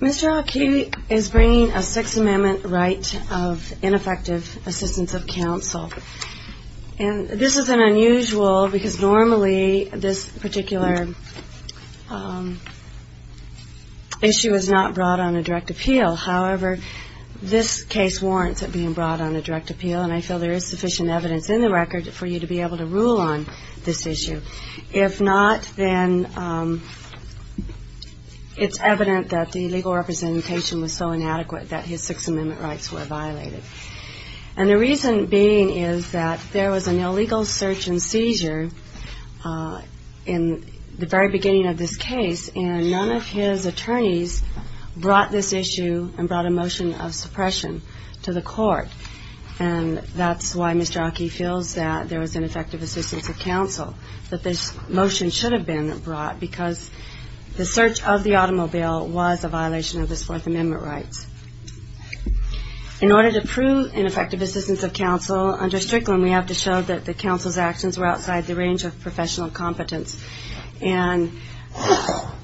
Mr. Aki is bringing a Sixth Amendment right of ineffective assistance of counsel. This is unusual because normally this particular issue is not brought on a direct appeal. However, this case warrants it being brought on a direct appeal, and I feel there is sufficient evidence in the record for you to be able to rule on this issue. If not, then it's evident that the legal representation was so inadequate that his Sixth Amendment rights were violated. And the reason being is that there was an illegal search and seizure in the very beginning of this case, and none of his attorneys brought this issue and brought a motion of suppression to the court. And that's why Mr. Aki feels that there was ineffective assistance of counsel, that this motion should have been brought because the search of the automobile was a violation of his Fourth Amendment rights. In order to prove ineffective assistance of counsel under Strickland, we have to show that the counsel's actions were outside the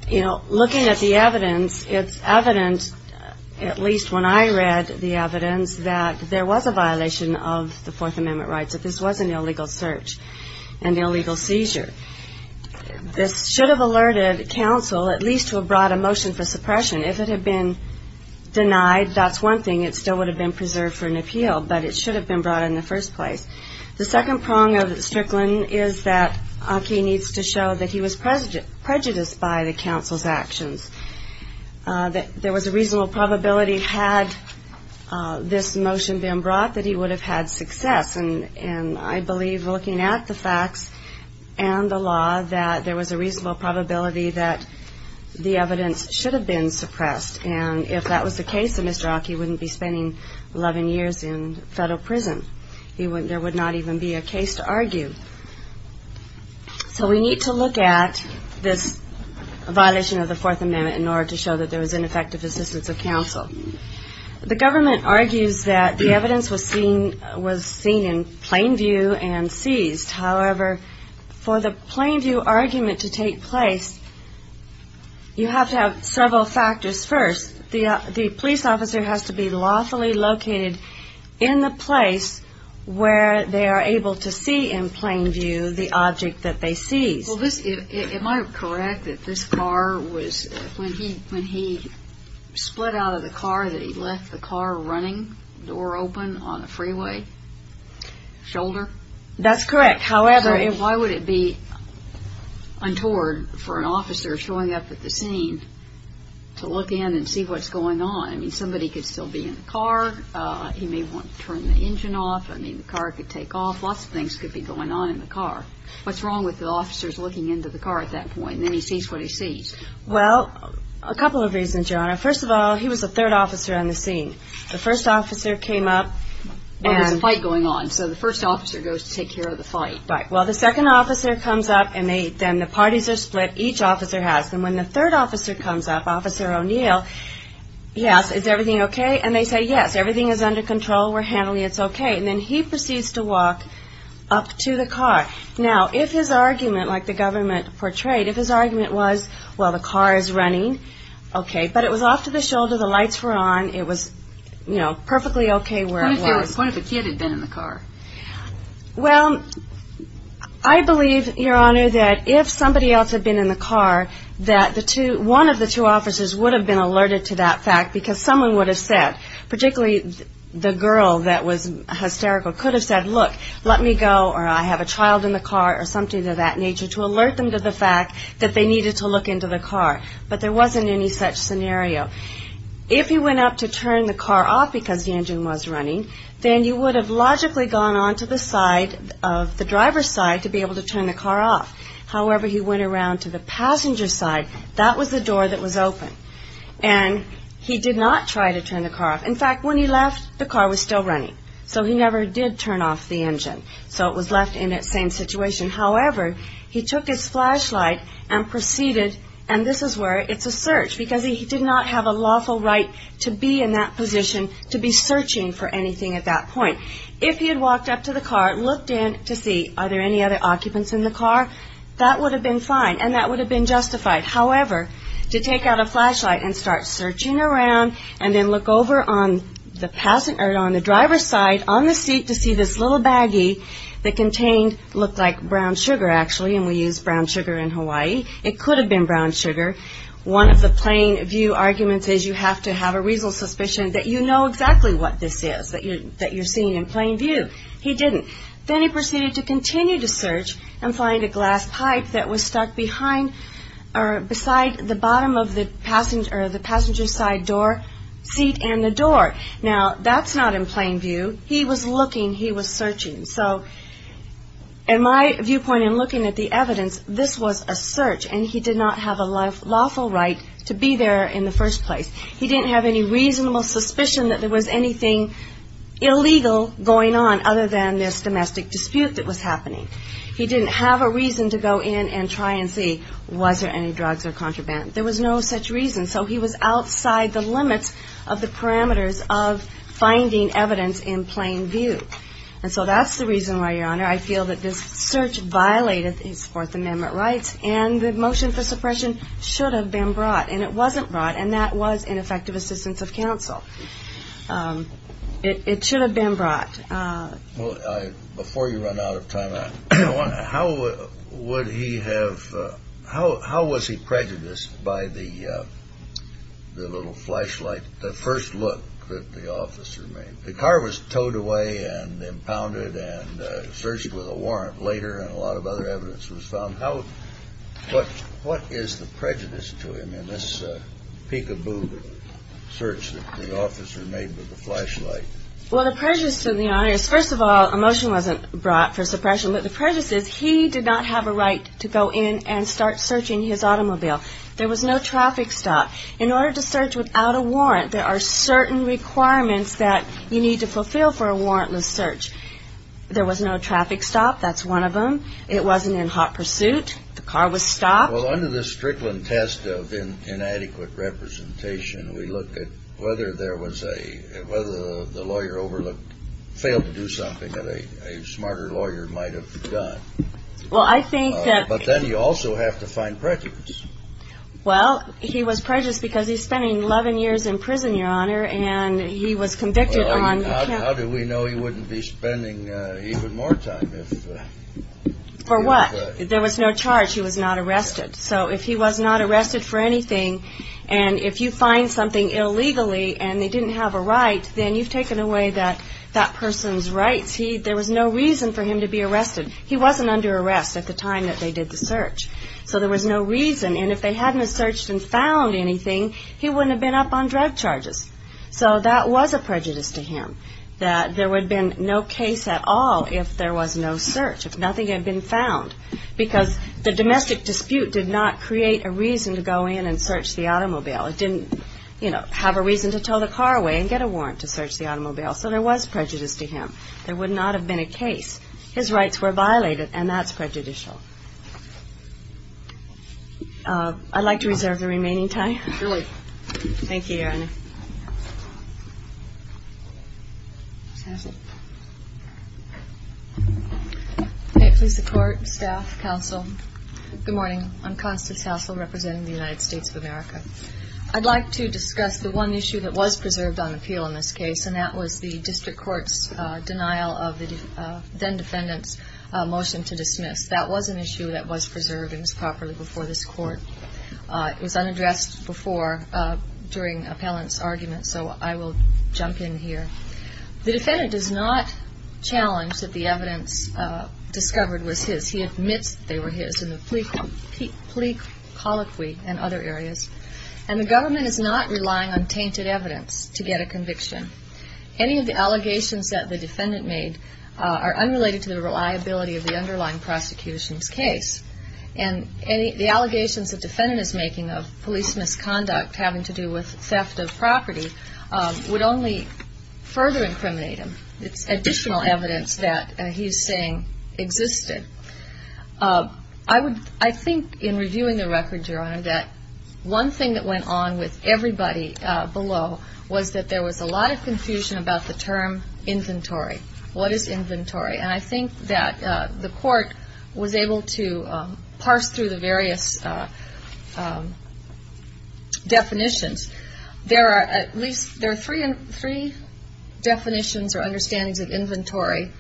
You know, looking at the evidence, it's evident, at least when I read the evidence, that there was a violation of the Fourth Amendment rights, that this was an illegal search and illegal seizure. This should have alerted counsel at least to have brought a motion for suppression. If it had been denied, that's one thing. It still would have been preserved for an appeal, but it should have been brought in the first place. The second prong of Strickland is that prejudice by the counsel's actions. There was a reasonable probability, had this motion been brought, that he would have had success. And I believe, looking at the facts and the law, that there was a reasonable probability that the evidence should have been suppressed. And if that was the case, then Mr. Aki wouldn't be spending 11 years in federal prison. There would not even be a case to argue. So we need to look at this violation of the Fourth Amendment in order to show that there was ineffective assistance of counsel. The government argues that the evidence was seen in plain view and seized. However, for the plain view argument to take place, you have to have several factors first. The police officer has to be lawfully located in the place where they are able to see in plain view the object that they seized. Well, am I correct that this car was, when he split out of the car, that he left the car running, door open, on a freeway, shoulder? That's correct. However, why would it be untoward for an officer showing up at the scene to look in and see what's going on? I mean, somebody could still be in the car. He may want to turn the engine off. I mean, the car could take off. Lots of things could be going on in the car. What's wrong with the officers looking into the car at that point, and then he sees what he sees? Well, a couple of reasons, Your Honor. First of all, he was the third officer on the scene. The first officer came up and... Well, there's a fight going on, so the first officer goes to take care of the fight. Right. Well, the second officer comes up, and then the parties are split. Each officer has them. When the third officer comes up, Officer O'Neill, yes, is everything okay? And they say, yes, everything is under control. We're handling it. It's okay. And then he proceeds to walk up to the car. Now, if his argument, like the government portrayed, if his argument was, well, the car is running, okay. But it was off to the shoulder. The lights were on. It was, you know, perfectly okay where it was. What if there was... What if a kid had been in the car? Well, I believe, Your Honor, that if somebody else had been in the car, that the two... one of the two officers would have been alerted to that fact, because someone would have said, particularly the girl that was hysterical, could have said, look, let me go, or I have a child in the car, or something of that nature, to alert them to the fact that they needed to look into the car. But there wasn't any such scenario. If he went up to turn the car off because the engine was running, then you would have logically gone on to the side of the driver's side to be able to turn the car off. However, he went around to the passenger side. That was the door that was open. And he did not try to turn the car off. In fact, when he left, the car was still running. So he never did turn off the engine. So it was left in that same situation. However, he took his flashlight and proceeded, and this is where it's a search, because he did not have a lawful right to be in that position, to be searching for anything at that point. If he had walked up to the car, looked in to see, are there any other occupants in the car, that would have been fine, and that would have been justified. However, to take out a flashlight and start searching around, and then look over on the driver's side, on the seat, to see this little baggie that contained, looked like brown sugar, actually, and we use brown sugar in Hawaii. It could have been brown sugar. One of the plain view arguments is you have to have a reasonable suspicion that you know exactly what this is, that you're seeing in plain view. He didn't. Then he proceeded to continue to search and find a glass pipe that was stuck behind, or beside the bottom of the passenger side door, seat and the door. Now, that's not in plain view. He was looking. He was searching. So, in my viewpoint, in looking at the evidence, this was a search, and he did not have a lawful right to be there in the first place. He didn't have any reasonable suspicion that there was anything illegal going on, other than this domestic dispute that was happening. He didn't have a reason to go in and try and see, was there any drugs or contraband? There was no such reason. So he was outside the limits of the parameters of finding evidence in plain view. And so that's the reason why, Your Honor, I feel that this search violated his Fourth Amendment rights, and the motion for suppression should have been brought. And it wasn't brought, and that was ineffective assistance of counsel. It should have been brought. Well, before you run out of time, I want to ask, how would he have, how was he prejudiced by the little flashlight, the first look that the officer made? The car was towed away and searched with a warrant later, and a lot of other evidence was found. How, what, what is the prejudice to him in this peek-a-boo search that the officer made with the flashlight? Well, the prejudice to the Honor is, first of all, a motion wasn't brought for suppression, but the prejudice is, he did not have a right to go in and start searching his automobile. There was no traffic stop. In order to search without a warrant, there are certain requirements that you need to fulfill for a warrantless search. There was no traffic stop. That's one of them. It wasn't in hot pursuit. The car was stopped. Well, under this Strickland test of inadequate representation, we look at whether there was a, whether the lawyer overlooked, failed to do something that a smarter lawyer might have done. Well, I think that But then you also have to find prejudice. Well, he was prejudiced because he's spending 11 years in prison, Your Honor, and he was convicted on Well, how do we know he wouldn't be spending even more time if For what? There was no charge. He was not arrested. So if he was not arrested for anything, and if you find something illegally and they didn't have a right, then you've taken away that, that person's rights. He, there was no reason for him to be arrested. He wasn't under arrest at the time that they did the search. So there was no reason, and if they hadn't have searched and found anything, he wouldn't have been up on drug charges. So that was a prejudice to him, that there would have been no case at all if there was no search, if nothing had been found, because the domestic dispute did not create a reason to go in and search the automobile. It didn't, you know, have a reason to tow the car away and get a warrant to search the automobile. So there was prejudice to him. There would not have been a case. His rights were violated, and that's prejudicial. I'd like to reserve the remaining time. Thank you, Erin. May it please the Court, staff, counsel. Good morning. I'm Constance Hassell, representing the United States of America. I'd like to discuss the one issue that was preserved on appeal in this case, and that was the district court's denial of the defendant's motion to dismiss. That was an issue that was preserved and was properly before this Court. It was unaddressed before during appellant's argument, so I will jump in here. The defendant does not challenge that the evidence discovered was his. He admits they were his in the plea colloquy and other areas. And the government is not relying on tainted evidence to get a conviction. Any of the allegations that the defendant made are unrelated to the reliability of the underlying prosecution's case. And the allegations the defendant is making of police misconduct having to do with theft of property would only further incriminate him. It's additional evidence that he's saying existed. I think in reviewing the record, Your Honor, that one thing that went on with everybody below was that there was a lot of confusion about the term inventory. What is inventory? And I think that the Court was able to parse through the various definitions. There are at least three definitions or understandings of inventory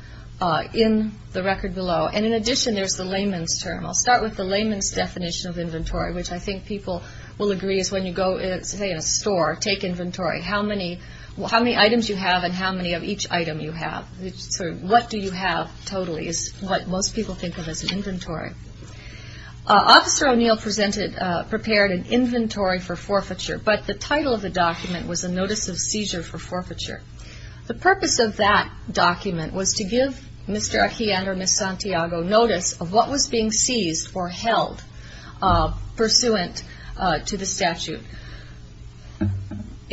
in the record below. And in addition, there's the layman's term. I'll start with the layman's definition of inventory, which I think people will agree is when you go, say, in a store, take inventory. How many items you have and how many of each item you have. What do you have totally is what most people think of as an inventory. Officer O'Neill prepared an inventory for forfeiture, but the title of the document was a notice of seizure for forfeiture. The purpose of that document was to give Mr. Achillean or Ms. Santiago notice of what was being seized or held pursuant to the statute.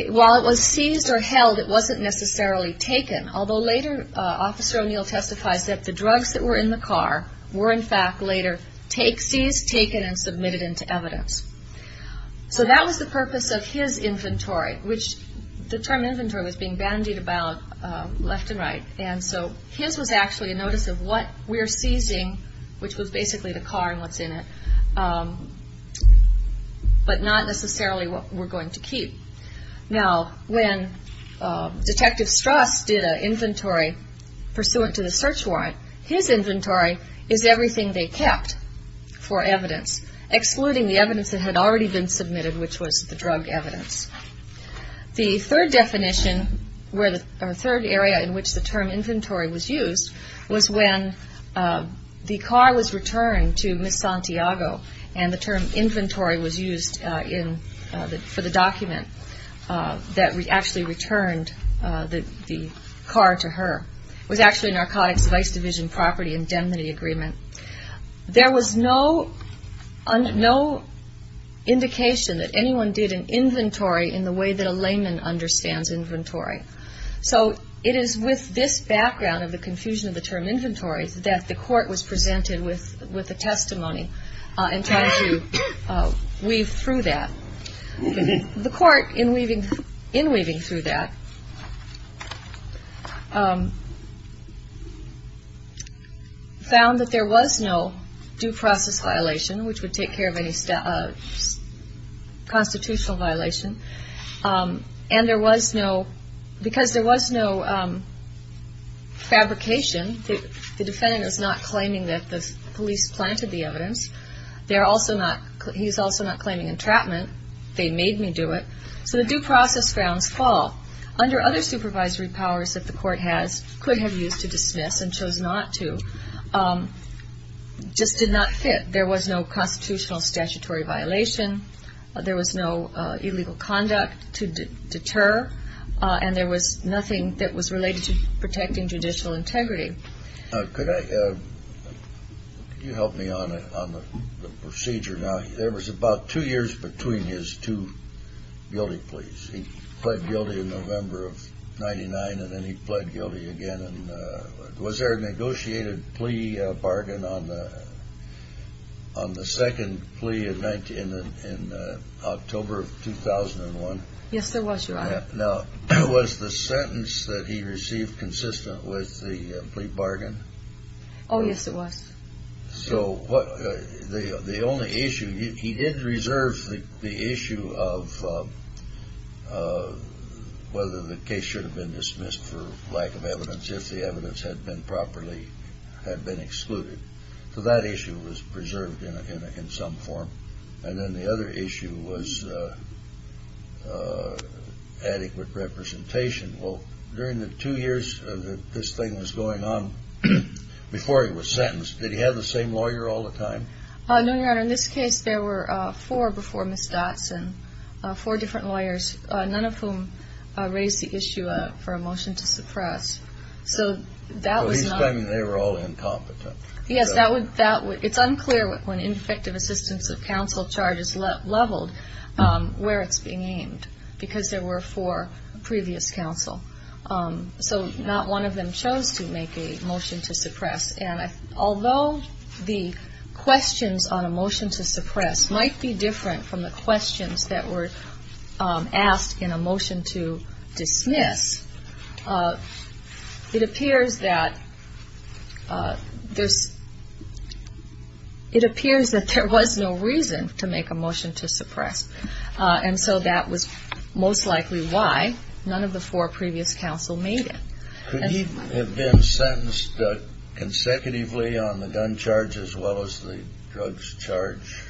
While it was seized or held, it wasn't necessarily taken, although later, Officer O'Neill testifies that the drugs that were in the car were in fact later seized, taken, and submitted into evidence. So that was the purpose of his inventory, which the term inventory was being bandied about left and right. And so his was actually a notice of what we're seizing, which was basically the car and what's in it, but not necessarily what we're going to keep. Now, when Detective Strass did an inventory pursuant to the search warrant, his inventory is everything they kept for evidence, excluding the evidence that was in the car. The evidence that had already been submitted, which was the drug evidence. The third definition, or third area in which the term inventory was used, was when the car was returned to Ms. Santiago, and the term inventory was used for the document that actually returned the car to her. It was actually Narcotics Vice Division Property Indemnity Agreement. There was no indication that anyone did an inventory in the way that a layman understands inventory. So it is with this background of the confusion of the term inventory that the court was presented with a testimony in trying to weave through that. The court, in weaving through that, found that there was no detail to show that this was not the case, nor is there to now survive. And there was no due process violation, which would take care of any constitutional violation. And there was no, because there was no fabrication, the defendant is not claiming that the police planted the evidence. He is also not claiming entrapment. They made me do it. So the due process grounds fall. Under other circumstances, it just did not fit. There was no constitutional statutory violation. There was no illegal conduct to deter. And there was nothing that was related to protecting judicial integrity. Could I, could you help me on the procedure now? There was about two years between his two guilty pleas. He pled guilty in November of 99, and then he pled guilty again. And was there a negotiated plea bargain on that? On the second plea in October of 2001? Yes, there was, Your Honor. Now, was the sentence that he received consistent with the plea bargain? Oh, yes, it was. So the only issue, he did reserve the issue of whether the case should have been dismissed for lack of evidence, if the evidence had been properly, had been excluded. So that issue was preserved in some form. And then the other issue was adequate representation. Well, during the two years that this thing was going on, before he was sentenced, did he have the same lawyer all the time? No, Your Honor. In this case, there were four before Ms. Dotson, four different lawyers, none of whom raised the issue for a motion to suppress. So that was not... Yes, that was, it's unclear when Ineffective Assistance of Counsel charges leveled, where it's been aimed, because there were four previous counsel. So not one of them chose to make a motion to suppress. And although the questions on a motion to suppress might be different from the questions that were asked in a motion to dismiss, it appears that there's two areas where the assistance would be leveled. It appears that there was no reason to make a motion to suppress. And so that was most likely why none of the four previous counsel made it. Could he have been sentenced consecutively on the gun charge as well as the drugs charge?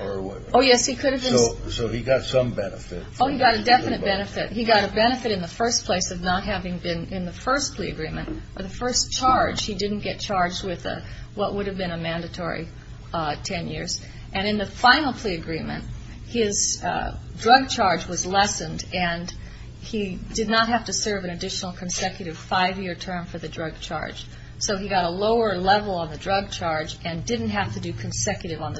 Oh, yes, he could have been. So he got some benefit. Oh, he got a definite benefit. He got a benefit in the first place of not having been in the first plea agreement, or the first charge. He didn't get charged with what would have been a mandatory ten years. And in the final plea agreement, his drug charge was lessened, and he did not have to serve an additional consecutive five-year term for the drug charge. So he got a lower level on the drug charge and didn't have to do consecutive on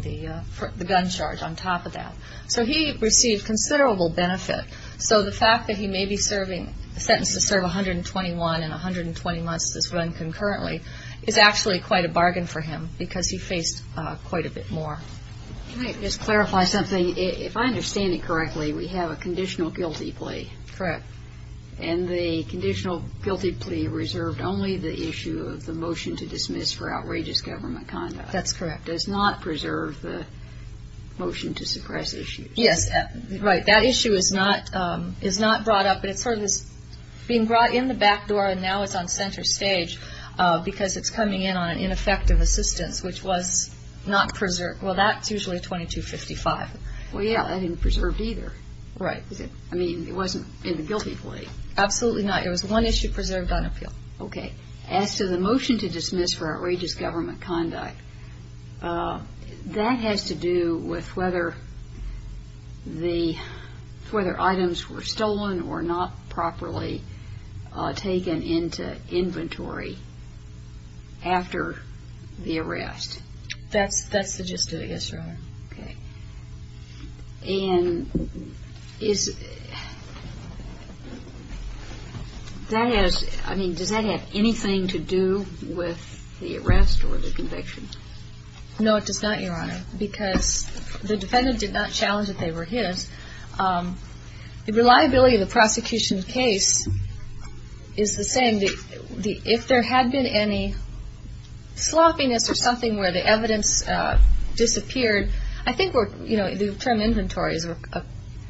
the gun charge on top of that. So he received considerable benefit. So the fact that he may be serving a sentence to serve 121 and 120 months to this run concurrently is actually quite a bargain for him because he faced quite a bit more. Can I just clarify something? If I understand it correctly, we have a conditional guilty plea. Correct. And the conditional guilty plea reserved only the issue of the motion to dismiss for outrageous government conduct. That's correct. That does not preserve the motion to suppress issue. Yes, right. That issue is not brought up. It's sort of being brought in the back door, and now it's on center stage because it's coming in on an ineffective assistance, which was not preserved. Well, that's usually 2255. Well, yeah, that isn't preserved either. Right. I mean, it wasn't in the guilty plea. Absolutely not. It was one issue preserved on appeal. Okay. As to the motion to dismiss for outrageous government conduct, that has to do with whether items were stolen or not properly taken into inventory after the arrest. That's the gist of it, yes, Your Honor. Okay. And does that have anything to do with the arrest or the conviction? No, it does not, Your Honor, because the defendant did not challenge that they were his. The reliability of the prosecution's case is the same. If there had been any sloppiness or something where the evidence disappeared, I think the term inventories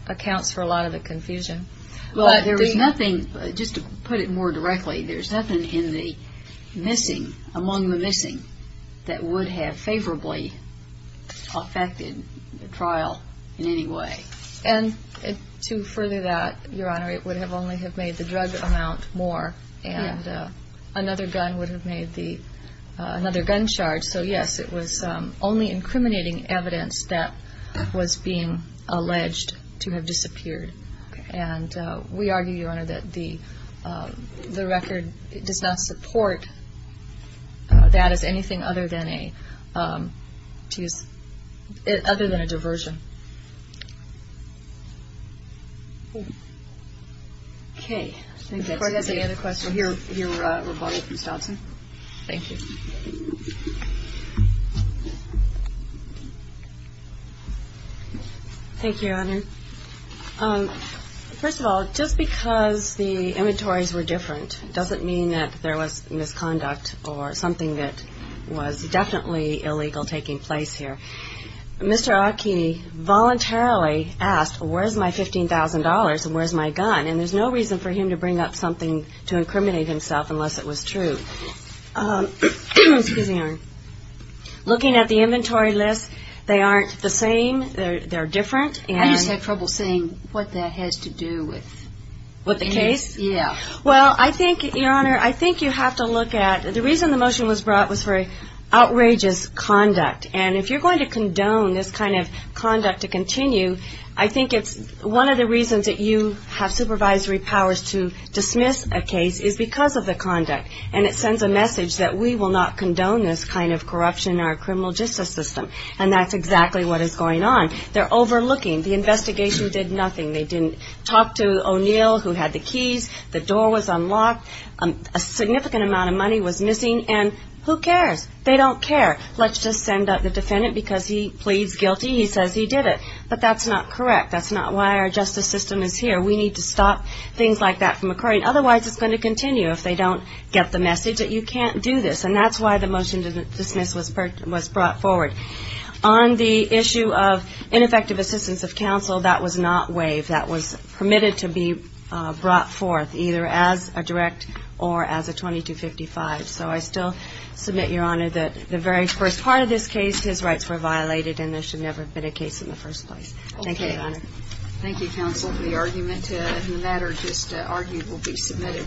accounts for a lot of the confusion. Well, there was nothing, just to put it more directly, there's nothing in the missing, among the missing, that would have favorably affected the trial in any way. And to further that, Your Honor, it would have only have made the drug amount more, and another gun would have made another gun charge. So, yes, it was only incriminating evidence that was being alleged to have disappeared. Okay. And we argue, Your Honor, that the record does not support that as anything other than a diversion. Okay. Before I get to any other questions, I'll hear remarks from Stotson. Thank you. Thank you, Your Honor. First of all, just because the inventories were different doesn't mean that there was misconduct or something that was definitely illegal taking place here. Mr. Akini voluntarily asked, where's my $15,000 and where's my gun? And there's no reason for him to bring up something to incriminate himself unless it was true. Excuse me, Erin. Looking at the inventory list, they aren't the same. They're different. I just had trouble seeing what that has to do with. With the case? Yeah. Well, I think, Your Honor, I think you have to look at, the reason the motion was brought was for outrageous conduct. And if you're going to condone this kind of conduct to continue, I think it's one of the reasons that you have supervisory powers to dismiss a case is because of the conduct. And it sends a message that we will not condone this kind of corruption in our criminal justice system. And that's exactly what is going on. They're overlooking. The investigation did nothing. They didn't talk to O'Neill, who had the keys. The door was unlocked. A significant amount of money was missing. And who cares? They don't care. Let's just send up the defendant because he pleads guilty. He says he did it. But that's not correct. That's not why our justice system is here. We need to stop things like that from occurring. Otherwise, it's going to continue if they don't get the message that you can't do this. And that's why the motion to dismiss was brought forward. On the issue of ineffective assistance of counsel, that was not waived. That was permitted to be brought forth, either as a direct or as a 2255. So I still submit, Your Honor, that the very first part of this case, his rights were violated, and there should never have been a case in the first place. Thank you, Your Honor. Thank you, counsel, for the argument. And the matter just argued will be submitted.